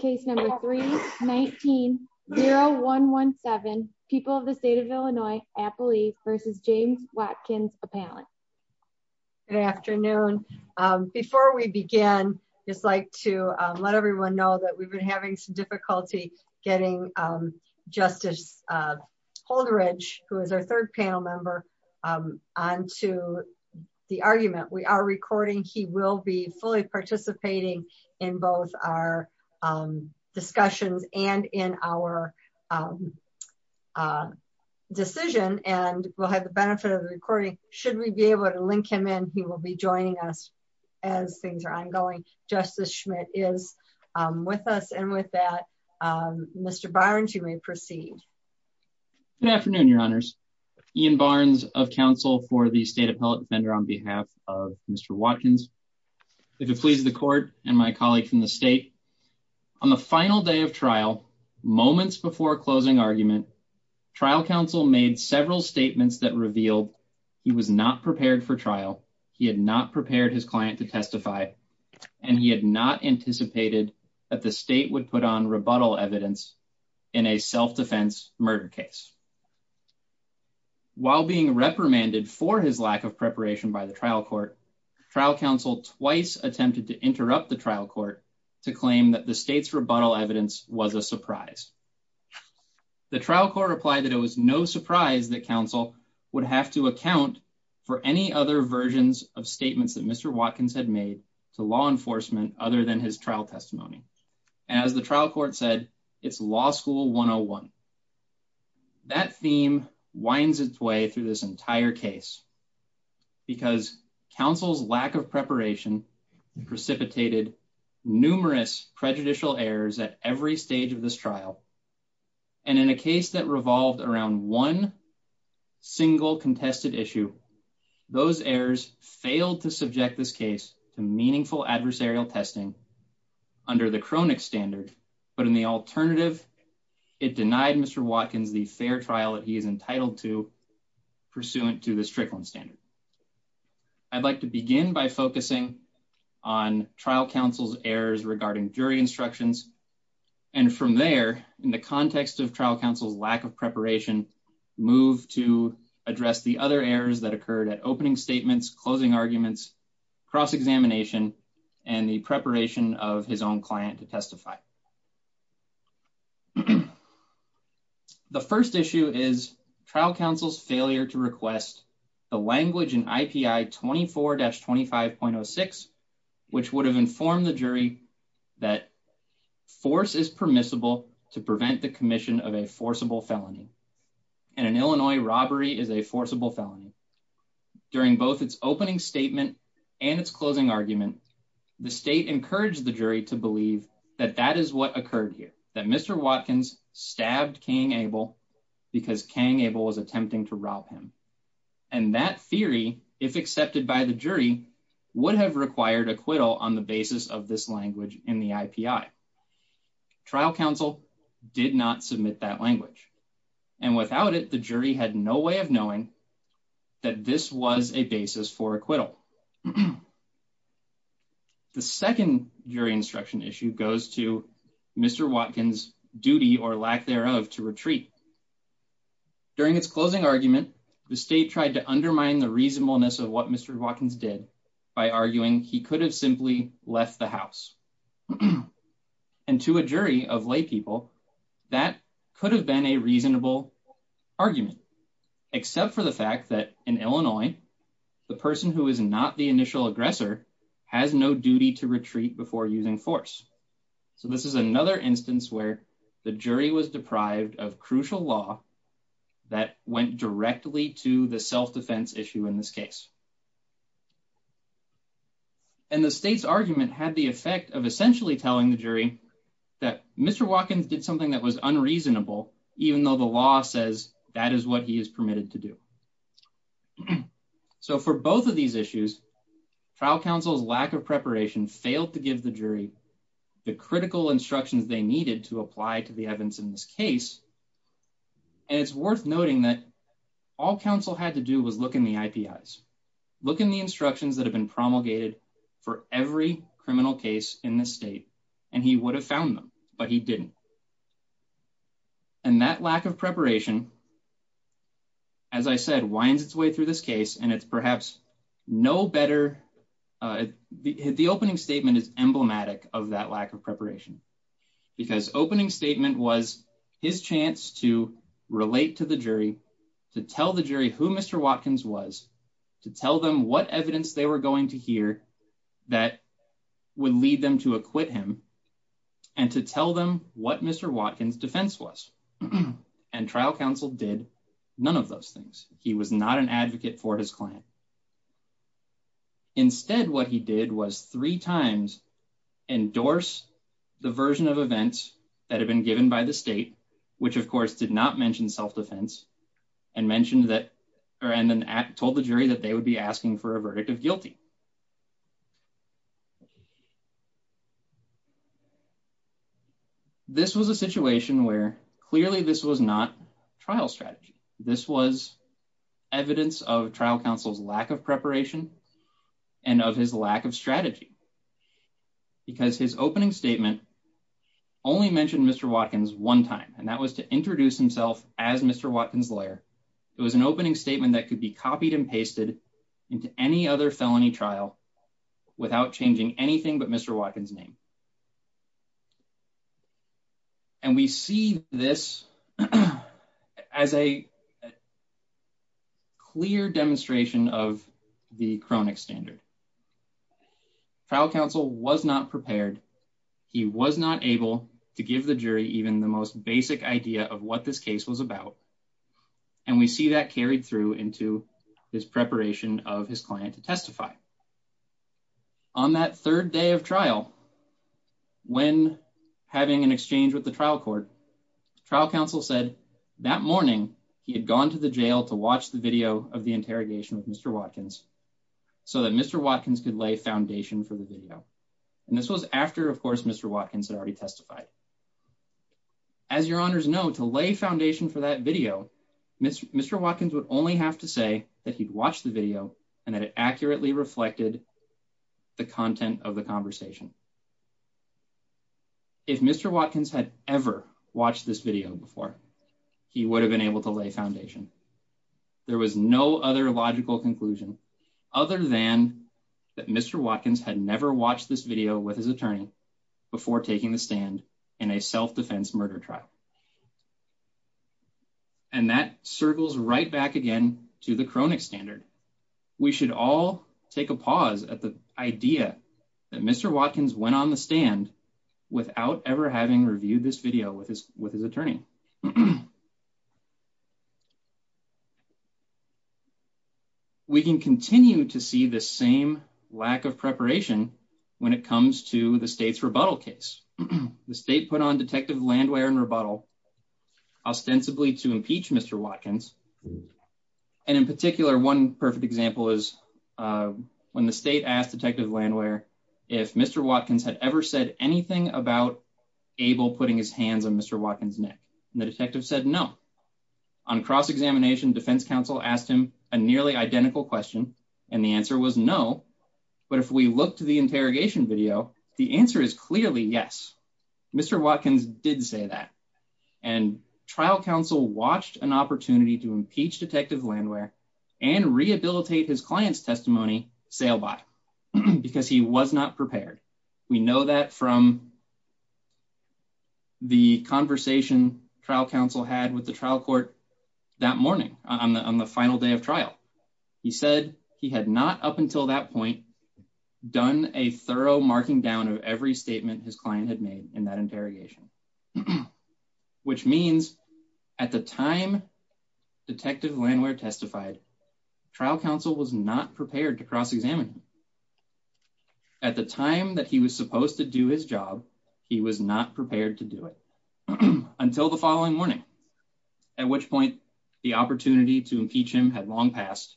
Case number 319-0117, People of the State of Illinois, Appalachia versus James Watkins Appellant. Good afternoon. Before we begin, just like to let everyone know that we've been having some difficulty getting Justice Holderidge, who is our third panel member, onto the argument. We are recording, he will be fully participating in both our discussions and in our decision. And we'll have the benefit of the recording. Should we be able to link him in, he will be joining us as things are ongoing. Justice Schmidt is with us. And with that, Mr. Barnes, you may proceed. Good afternoon, your honors. Ian Barnes of counsel for the State Appellate Defender on behalf of Mr. Watkins. If it pleases the court and my colleague from the state, on the final day of trial, moments before closing argument, trial counsel made several statements that revealed he was not prepared for trial. He had not prepared his client to testify and he had not anticipated that the state would put on rebuttal evidence in a self-defense murder case. While being reprimanded for his lack of preparation by the trial court, trial counsel twice attempted to interrupt the trial court to claim that the state's rebuttal evidence was a surprise. The trial court replied that it was no surprise that counsel would have to account for any other versions of statements that Mr. Watkins had made to law enforcement other than his trial testimony. As the trial court said, it's law school 101. That theme winds its way through this entire case because counsel's lack of preparation precipitated numerous prejudicial errors at every stage of this trial. And in a case that revolved around one single contested issue, those errors failed to subject this case to meaningful adversarial testing under the chronic standard. But in the alternative, it denied Mr. Watkins the fair trial that he is entitled to pursuant to the Strickland standard. I'd like to begin by focusing on trial counsel's errors regarding jury instructions. And from there, in the context of trial counsel's lack of preparation, move to address the other errors that occurred at opening statements, closing arguments, cross-examination, and the preparation of his own client to testify. The first issue is trial counsel's failure to request the language in IPI 24-25.06, which would have informed the jury that force is permissible to prevent the commission of a forcible felony. And an Illinois robbery is a forcible felony. During both its opening statement the state encouraged the jury to believe that that statement was a forcible felony. And that is what occurred here, that Mr. Watkins stabbed King Abel because King Abel was attempting to rob him. And that theory, if accepted by the jury, would have required acquittal on the basis of this language in the IPI. Trial counsel did not submit that language. And without it, the jury had no way of knowing that this was a basis for acquittal. The second jury instruction issue goes to Mr. Watkins' duty or lack thereof to retreat. During its closing argument, the state tried to undermine the reasonableness of what Mr. Watkins did by arguing he could have simply left the house. And to a jury of lay people, except for the fact that in Illinois, the person who is not the initial aggressor has no duty to retreat before using force. So this is another instance where the jury was deprived of crucial law that went directly to the self-defense issue in this case. And the state's argument had the effect of essentially telling the jury that Mr. Watkins did something that was unreasonable, even though the law says that is what he is permitted to do. So for both of these issues, trial counsel's lack of preparation failed to give the jury the critical instructions they needed to apply to the evidence in this case. And it's worth noting that all counsel had to do was look in the IPIs, look in the instructions that have been promulgated for every criminal case in this state, and he would have found them, but he didn't. And that lack of preparation, as I said, winds its way through this case, and it's perhaps no better, the opening statement is emblematic of that lack of preparation, because opening statement was his chance to relate to the jury, to tell the jury who Mr. Watkins was, to tell them what evidence they were going to hear that would lead them to acquit him, and to tell them what Mr. Watkins' defense was. And trial counsel did none of those things. He was not an advocate for his client. Instead, what he did was three times endorse the version of events that had been given by the state, which of course did not mention self-defense, and told the jury that they would be asking for a verdict of guilty. This was a situation where, clearly this was not trial strategy. This was evidence of trial counsel's lack of preparation, and of his lack of strategy. Because his opening statement only mentioned Mr. Watkins one time, and that was to introduce himself as Mr. Watkins' lawyer. It was an opening statement that could be copied and pasted into any other felony trial, and that was to show that he was a lawyer. And he was a lawyer in a felony trial without changing anything but Mr. Watkins' name. And we see this as a clear demonstration of the chronic standard. Trial counsel was not prepared. He was not able to give the jury even the most basic idea of what this case was about. And we see that carried through into his preparation of his client to testify. On that third day of trial, when having an exchange with the trial court, trial counsel said that morning he had gone to the jail to watch the video of the interrogation with Mr. Watkins so that Mr. Watkins could lay foundation for the video. And this was after, of course, Mr. Watkins had already testified. As your honors know, to lay foundation for that video, Mr. Watkins would only have to say that he'd watched the video and that it accurately reflected the content of the conversation. If Mr. Watkins had ever watched this video before, he would have been able to lay foundation. There was no other logical conclusion other than that Mr. Watkins had never watched this video with his attorney before taking the stand in a self-defense murder trial. And that circles right back again to the chronic standard. We should all take a pause at the idea that Mr. Watkins went on the stand without ever having reviewed this video with his attorney. We can continue to see the same lack of preparation when it comes to the state's rebuttal case. The state put on detective land wear and rebuttal ostensibly to impeach Mr. Watkins. And in particular, one perfect example is when the state asked detective land wear if Mr. Watkins had ever said anything about Abel putting his hands on Mr. Watkins' neck. And the detective said, no. On cross-examination defense counsel asked him a nearly identical question. And the answer was no. But if we look to the interrogation video, the answer is clearly yes. Mr. Watkins did say that. And trial counsel watched an opportunity to impeach detective land wear and rehabilitate his client's testimony sail by because he was not prepared. We know that from the conversation trial counsel had with the trial court that morning on the final day of trial. He said he had not, up until that point, done a thorough marking down of every statement his client had made in that interrogation. Which means at the time detective land wear testified, trial counsel was not prepared to cross-examine him. At the time that he was supposed to do his job, he was not prepared to do it until the following morning, at which point the opportunity to impeach him had long passed.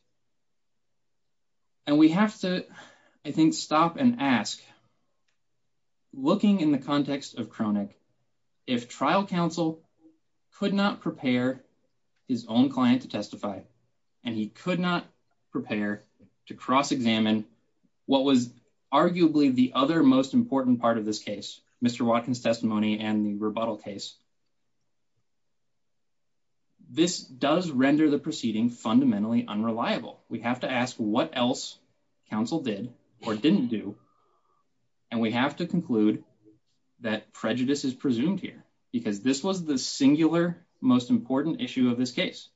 And we have to, I think, stop and ask, looking in the context of Kronick, if trial counsel could not prepare his own client to testify and he could not prepare to cross-examine what was arguably the other most important part of this case, Mr. Watkins' testimony and the rebuttal case, this does render the proceeding fundamentally unreliable. We have to ask what else counsel did or didn't do. And we have to conclude that prejudice is presumed here because this was the singular most important issue of this case.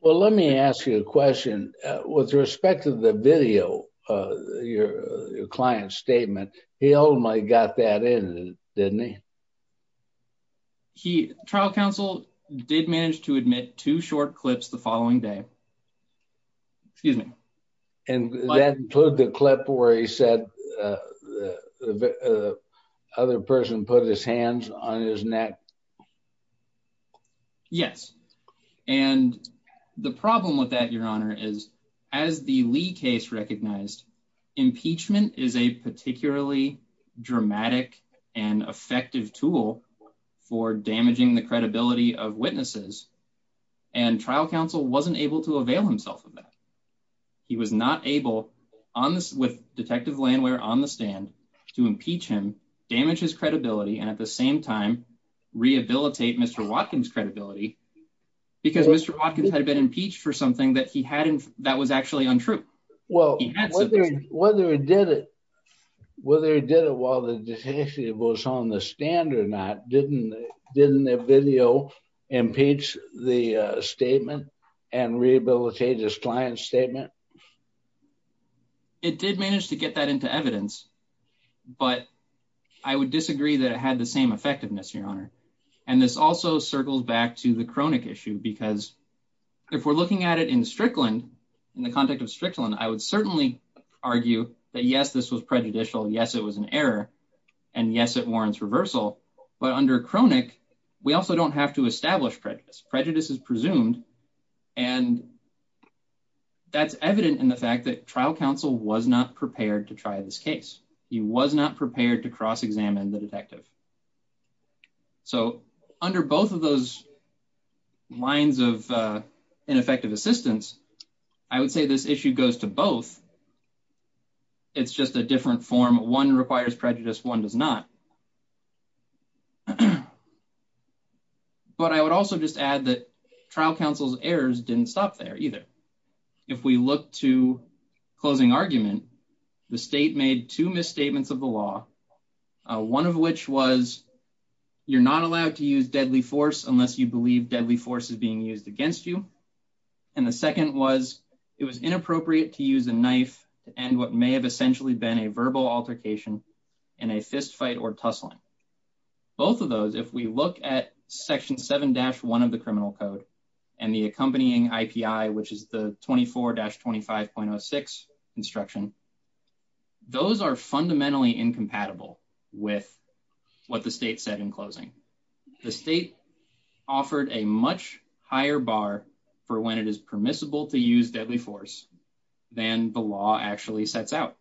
Well, let me ask you a question. With respect to the video, your client's statement, he only got that in, didn't he? Trial counsel did manage to admit two short clips the following day, excuse me. And that included the clip where he said other person put his hands on his neck. Yes. And the problem with that, your honor, is as the Lee case recognized, impeachment is a particularly dramatic and effective tool for damaging the credibility of witnesses. And trial counsel wasn't able to avail himself of that. He was not able with detective Landwehr on the stand to impeach him, damage his credibility, and at the same time, rehabilitate Mr. Watkins' credibility because Mr. Watkins had been impeached for something that he hadn't, that was actually untrue. Well, whether he did it, whether he did it while the detective was on the stand or not, didn't the video impeach the statement and rehabilitate his client's statement? It did manage to get that into evidence, but I would disagree that it had the same effectiveness, your honor. And this also circles back to the chronic issue because if we're looking at it in Strickland, in the context of Strickland, I would certainly argue that, yes, this was prejudicial. Yes, it was an error. And yes, it warrants reversal, but under chronic, we also don't have to establish prejudice. Prejudice is presumed. And that's evident in the fact that trial counsel was not prepared to try this case. He was not prepared to cross-examine the detective. So under both of those lines of ineffective assistance, I would say this issue goes to both. It's just a different form. One requires prejudice, one does not. But I would also just add that trial counsel's errors didn't stop there either. If we look to closing argument, the state made two misstatements of the law. One of which was, you're not allowed to use deadly force unless you believe deadly force is being used against you. And the second was, it was inappropriate to use a knife to end what may have essentially been a verbal altercation in a fist fight or combat. Or tussling. Both of those, if we look at section 7-1 of the criminal code and the accompanying IPI, which is the 24-25.06 instruction, those are fundamentally incompatible with what the state said in closing. The state offered a much higher bar for when it is permissible to use deadly force than the law actually sets out.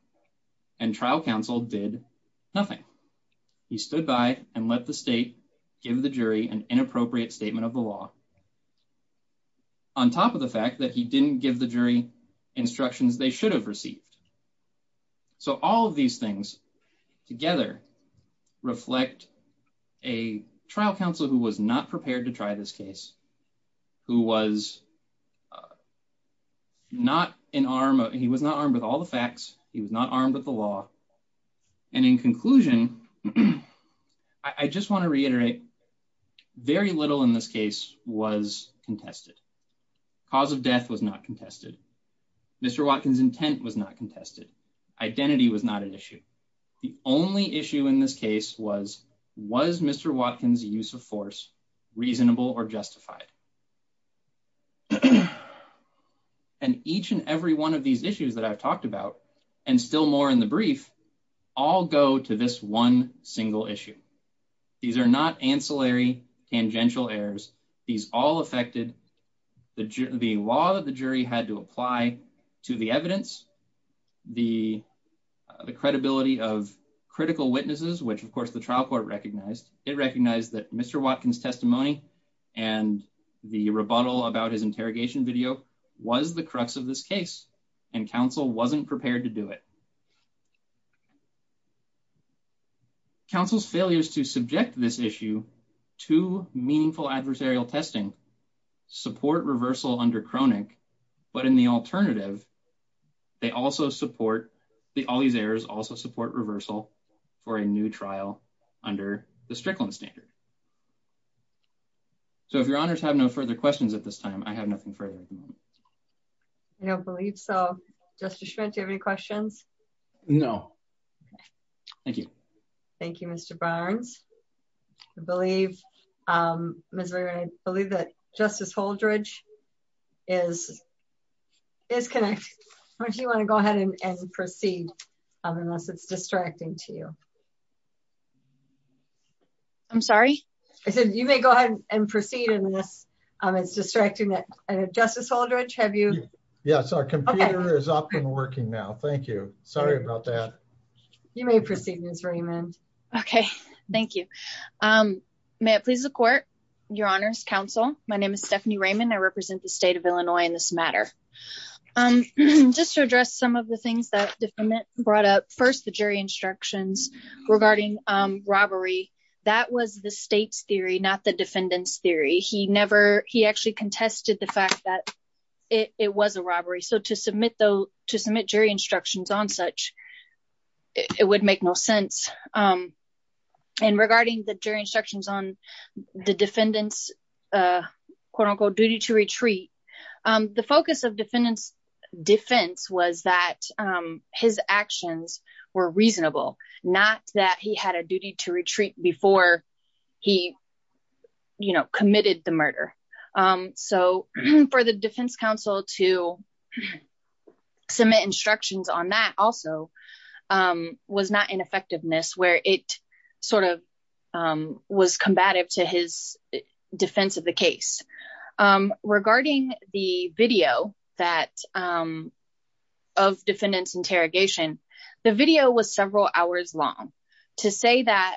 And trial counsel did nothing. He stood by and let the state give the jury an inappropriate statement of the law. On top of the fact that he didn't give the jury instructions they should have received. So all of these things together reflect a trial counsel who was not prepared to try this case, who was not in arm, he was not armed with all the facts, he was not armed with the law. And in conclusion, I just wanna reiterate, very little in this case was contested. Cause of death was not contested. Mr. Watkins' intent was not contested. Identity was not an issue. The only issue in this case was, was Mr. Watkins' use of force reasonable or justified? And each and every one of these issues that I've talked about, and still more in the brief, all go to this one single issue. These are not ancillary tangential errors. These all affected the law that the jury had to apply to the evidence, the credibility of critical witnesses, which of course the trial court recognized. It recognized that Mr. Watkins' testimony and the rebuttal about his interrogation video was the crux of this case. And counsel wasn't prepared to do it. Counsel's failures to subject this issue to meaningful adversarial testing support reversal under Kroenig. But in the alternative, they also support, all these errors also support reversal for a new trial under the Strickland standard. So if your honors have no further questions at this time, I have nothing further at the moment. I don't believe so. Justice Schmidt, do you have any questions? No. Thank you. Thank you, Mr. Barnes. I believe, Ms. Lerner, I believe that Justice Holdredge is connected. Why don't you wanna go ahead and proceed unless it's distracting to you. I'm sorry? I said, you may go ahead and proceed in this. It's distracting that, Justice Holdredge, have you? Yes, our computer is up and working now. Thank you. Sorry about that. You may proceed, Ms. Raymond. Okay, thank you. May it please the court, your honors, counsel. My name is Stephanie Raymond. I represent the state of Illinois in this matter. Just to address some of the things that the defendant brought up. First, the jury instructions regarding robbery. That was the state's theory, not the defendant's theory. He never, he actually contested the fact that it was a robbery. So to submit jury instructions on such, it would make no sense. And regarding the jury instructions on the defendant's, quote-unquote, duty to retreat, the focus of defendant's defense was that his actions were reasonable, before he committed the murder. So for the defense counsel to submit instructions on that also was not in effectiveness, where it sort of was combative to his defense of the case. Regarding the video of defendant's interrogation, the video was several hours long. To say that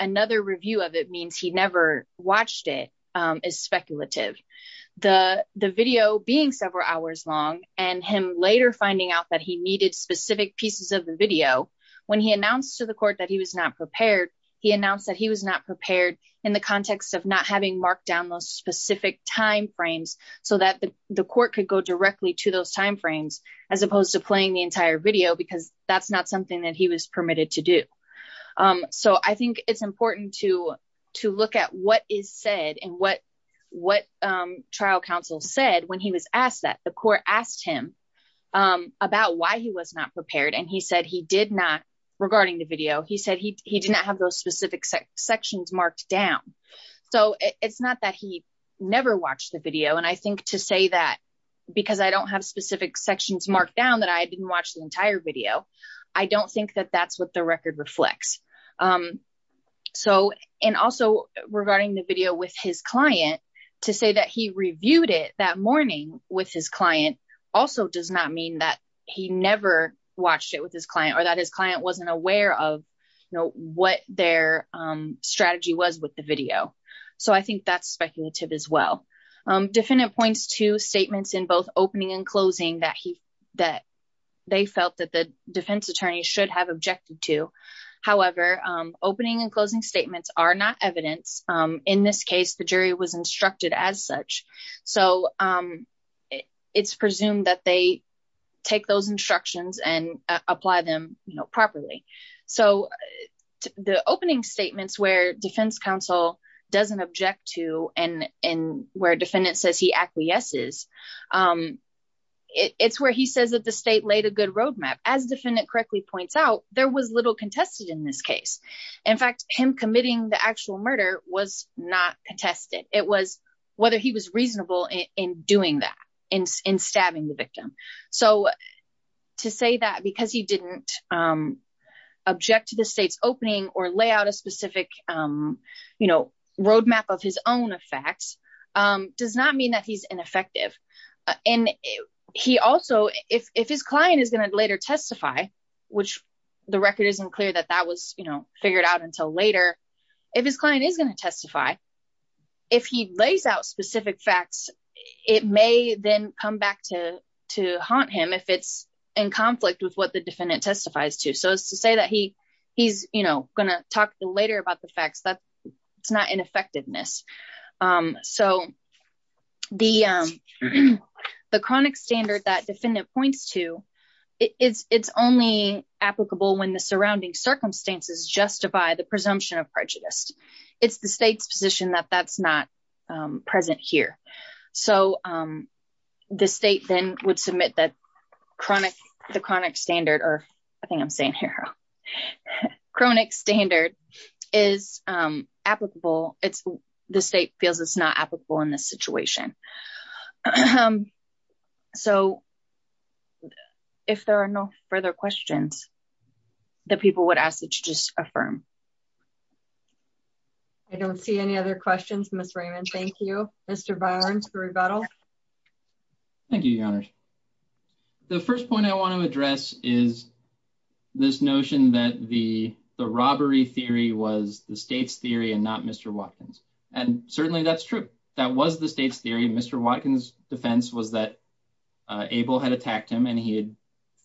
another review of it means he never watched it is speculative. The video being several hours long and him later finding out that he needed specific pieces of the video, when he announced to the court that he was not prepared, he announced that he was not prepared in the context of not having marked down those specific timeframes, so that the court could go directly to those timeframes, as opposed to playing the entire video, because that's not something that he was permitted to do. So I think it's important to look at what is said and what trial counsel said when he was asked that. The court asked him about why he was not prepared and he said he did not, regarding the video, he said he did not have those specific sections marked down. So it's not that he never watched the video, and I think to say that, because I don't have specific sections marked down that I didn't watch the entire video, I don't think that that's what the record reflects. So, and also regarding the video with his client, to say that he reviewed it that morning with his client, also does not mean that he never watched it with his client or that his client wasn't aware of, what their strategy was with the video. So I think that's speculative as well. Defendant points to statements in both opening and closing that they felt that the defense attorney should have objected to. However, opening and closing statements are not evidence. In this case, the jury was instructed as such. So it's presumed that they take those instructions and apply them properly. So the opening statements where defense counsel doesn't object to and where defendant says he acquiesces, it's where he says that the state laid a good roadmap. As defendant correctly points out, there was little contested in this case. In fact, him committing the actual murder was not contested. It was whether he was reasonable in doing that, in stabbing the victim. So to say that because he didn't object to the state's opening or lay out a specific roadmap of his own effects does not mean that he's ineffective. And he also, if his client is gonna later testify, which the record isn't clear that that was figured out until later, if his client is gonna testify, if he lays out specific facts, it may then come back to haunt him if it's in conflict with what the defendant testifies to. So as to say that he's gonna talk later about the facts, that's not ineffectiveness. So the chronic standard that defendant points to, it's only applicable when the surrounding circumstances justify the presumption of prejudice. It's the state's position that that's not present here. So the state then would submit the chronic standard, or I think I'm saying here, chronic standard is applicable. The state feels it's not applicable in this situation. So if there are no further questions, the people would ask that you just affirm. I don't see any other questions, Ms. Raymond. Thank you. Mr. Barnes for rebuttal. Thank you, your honors. The first point I wanna address is this notion that the robbery theory was the state's theory and not Mr. Watkins. And certainly that's true. That was the state's theory. Mr. Watkins' defense was that Abel had attacked him and he had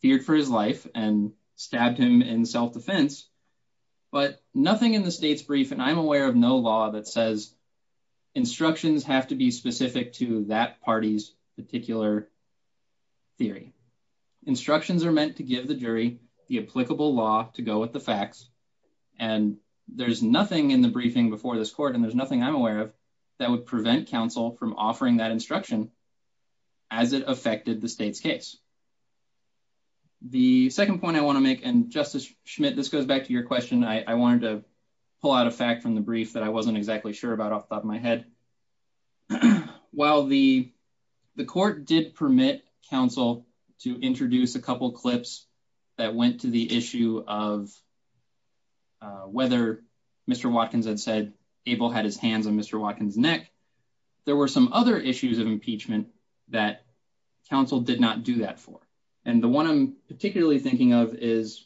feared for his life and stabbed him in self-defense, but nothing in the state's brief, and I'm aware of no law that says instructions have to be specific to that party's particular theory. Instructions are meant to give the jury the applicable law to go with the facts. And there's nothing in the briefing before this court, and there's nothing I'm aware of that would prevent counsel from offering that instruction as it affected the state's case. The second point I wanna make, and Justice Schmidt, this goes back to your question. I wanted to pull out a fact from the brief that I wasn't exactly sure about off the top of my head. While the court did permit counsel to introduce a couple of clips that went to the issue of whether Mr. Watkins had said Mr. Watkins' neck, there were some other issues of impeachment that counsel did not do that for. And the one I'm particularly thinking of is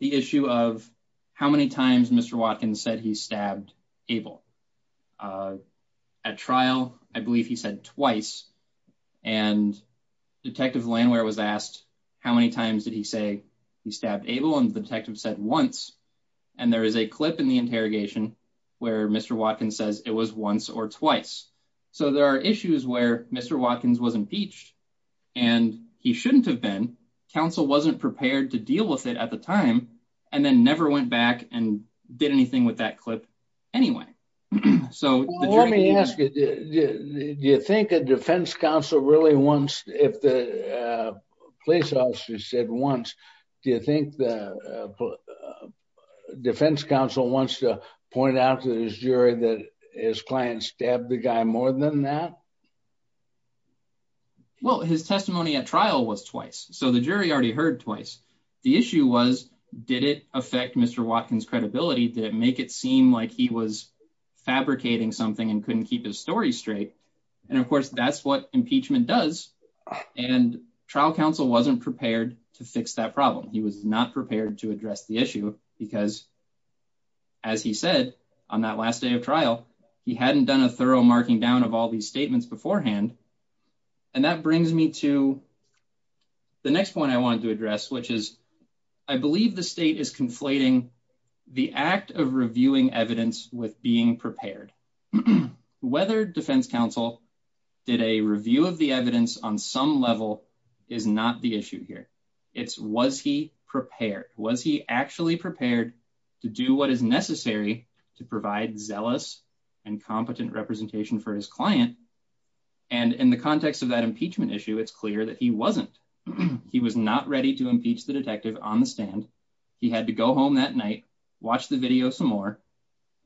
the issue of how many times Mr. Watkins said he stabbed Abel. At trial, I believe he said twice, and Detective Lanware was asked how many times did he say he stabbed Abel, and the detective said once. And there is a clip in the interrogation where Mr. Watkins says it was once or twice. So there are issues where Mr. Watkins was impeached and he shouldn't have been. Counsel wasn't prepared to deal with it at the time, and then never went back and did anything with that clip anyway. So the jury- Well, let me ask you, do you think a defense counsel really wants, if the police officer said once, do you think the defense counsel wants to point out to his jury that his client stabbed the guy more than that? Well, his testimony at trial was twice. So the jury already heard twice. The issue was, did it affect Mr. Watkins' credibility? Did it make it seem like he was fabricating something and couldn't keep his story straight? And of course, that's what impeachment does. And trial counsel wasn't prepared to fix that problem. He was not prepared to address the issue because as he said on that last day of trial, he hadn't done a thorough marking down of all these statements beforehand. And that brings me to the next point I wanted to address, which is, I believe the state is conflating the act of reviewing evidence with being prepared. Whether defense counsel did a review of the evidence on some level is not the issue here. It's, was he prepared? Was he actually prepared to do what is necessary to provide zealous and competent representation for his client? And in the context of that impeachment issue, it's clear that he wasn't. He was not ready to impeach the detective on the stand. He had to go home that night, watch the video some more,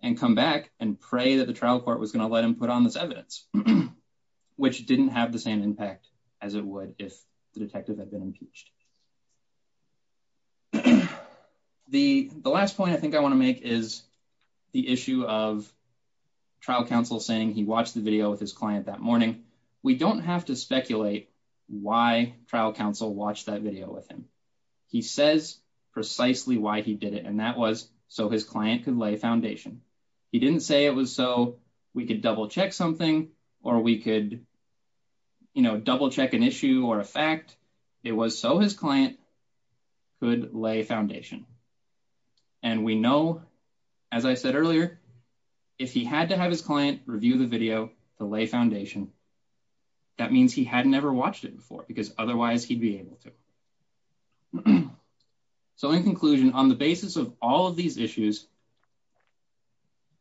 and come back and pray that the trial court was gonna let him put on this evidence, which didn't have the same impact as it would if the detective had been impeached. The last point I think I wanna make is the issue of trial counsel saying he watched the video with his client that morning. We don't have to speculate why trial counsel watched that video with him. He says precisely why he did it, and that was so his client could lay a foundation. He didn't say it was so we could double check something or we could double check an issue or a fact. It was so his client could lay foundation. And we know, as I said earlier, if he had to have his client review the video to lay foundation, that means he had never watched it before because otherwise he'd be able to. So in conclusion, on the basis of all of these issues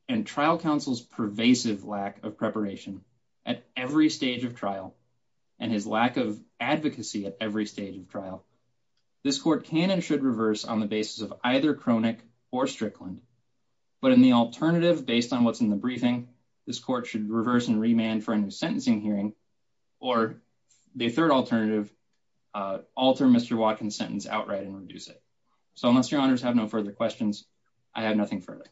and trial counsel's pervasive lack of preparation at every stage of trial, and his lack of advocacy at every stage of trial, this court can and should reverse on the basis of either Cronick or Strickland, but in the alternative, based on what's in the briefing, this court should reverse and remand for a new sentencing hearing, or the third alternative, alter Mr. Watkins' sentence outright and reduce it. So unless your honors have no further questions, I have nothing further.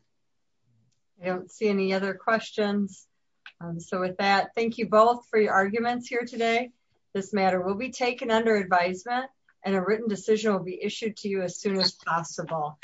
I don't see any other questions. So with that, thank you both for your arguments here today. This matter will be taken under advisement and a written decision will be issued to you as soon as possible.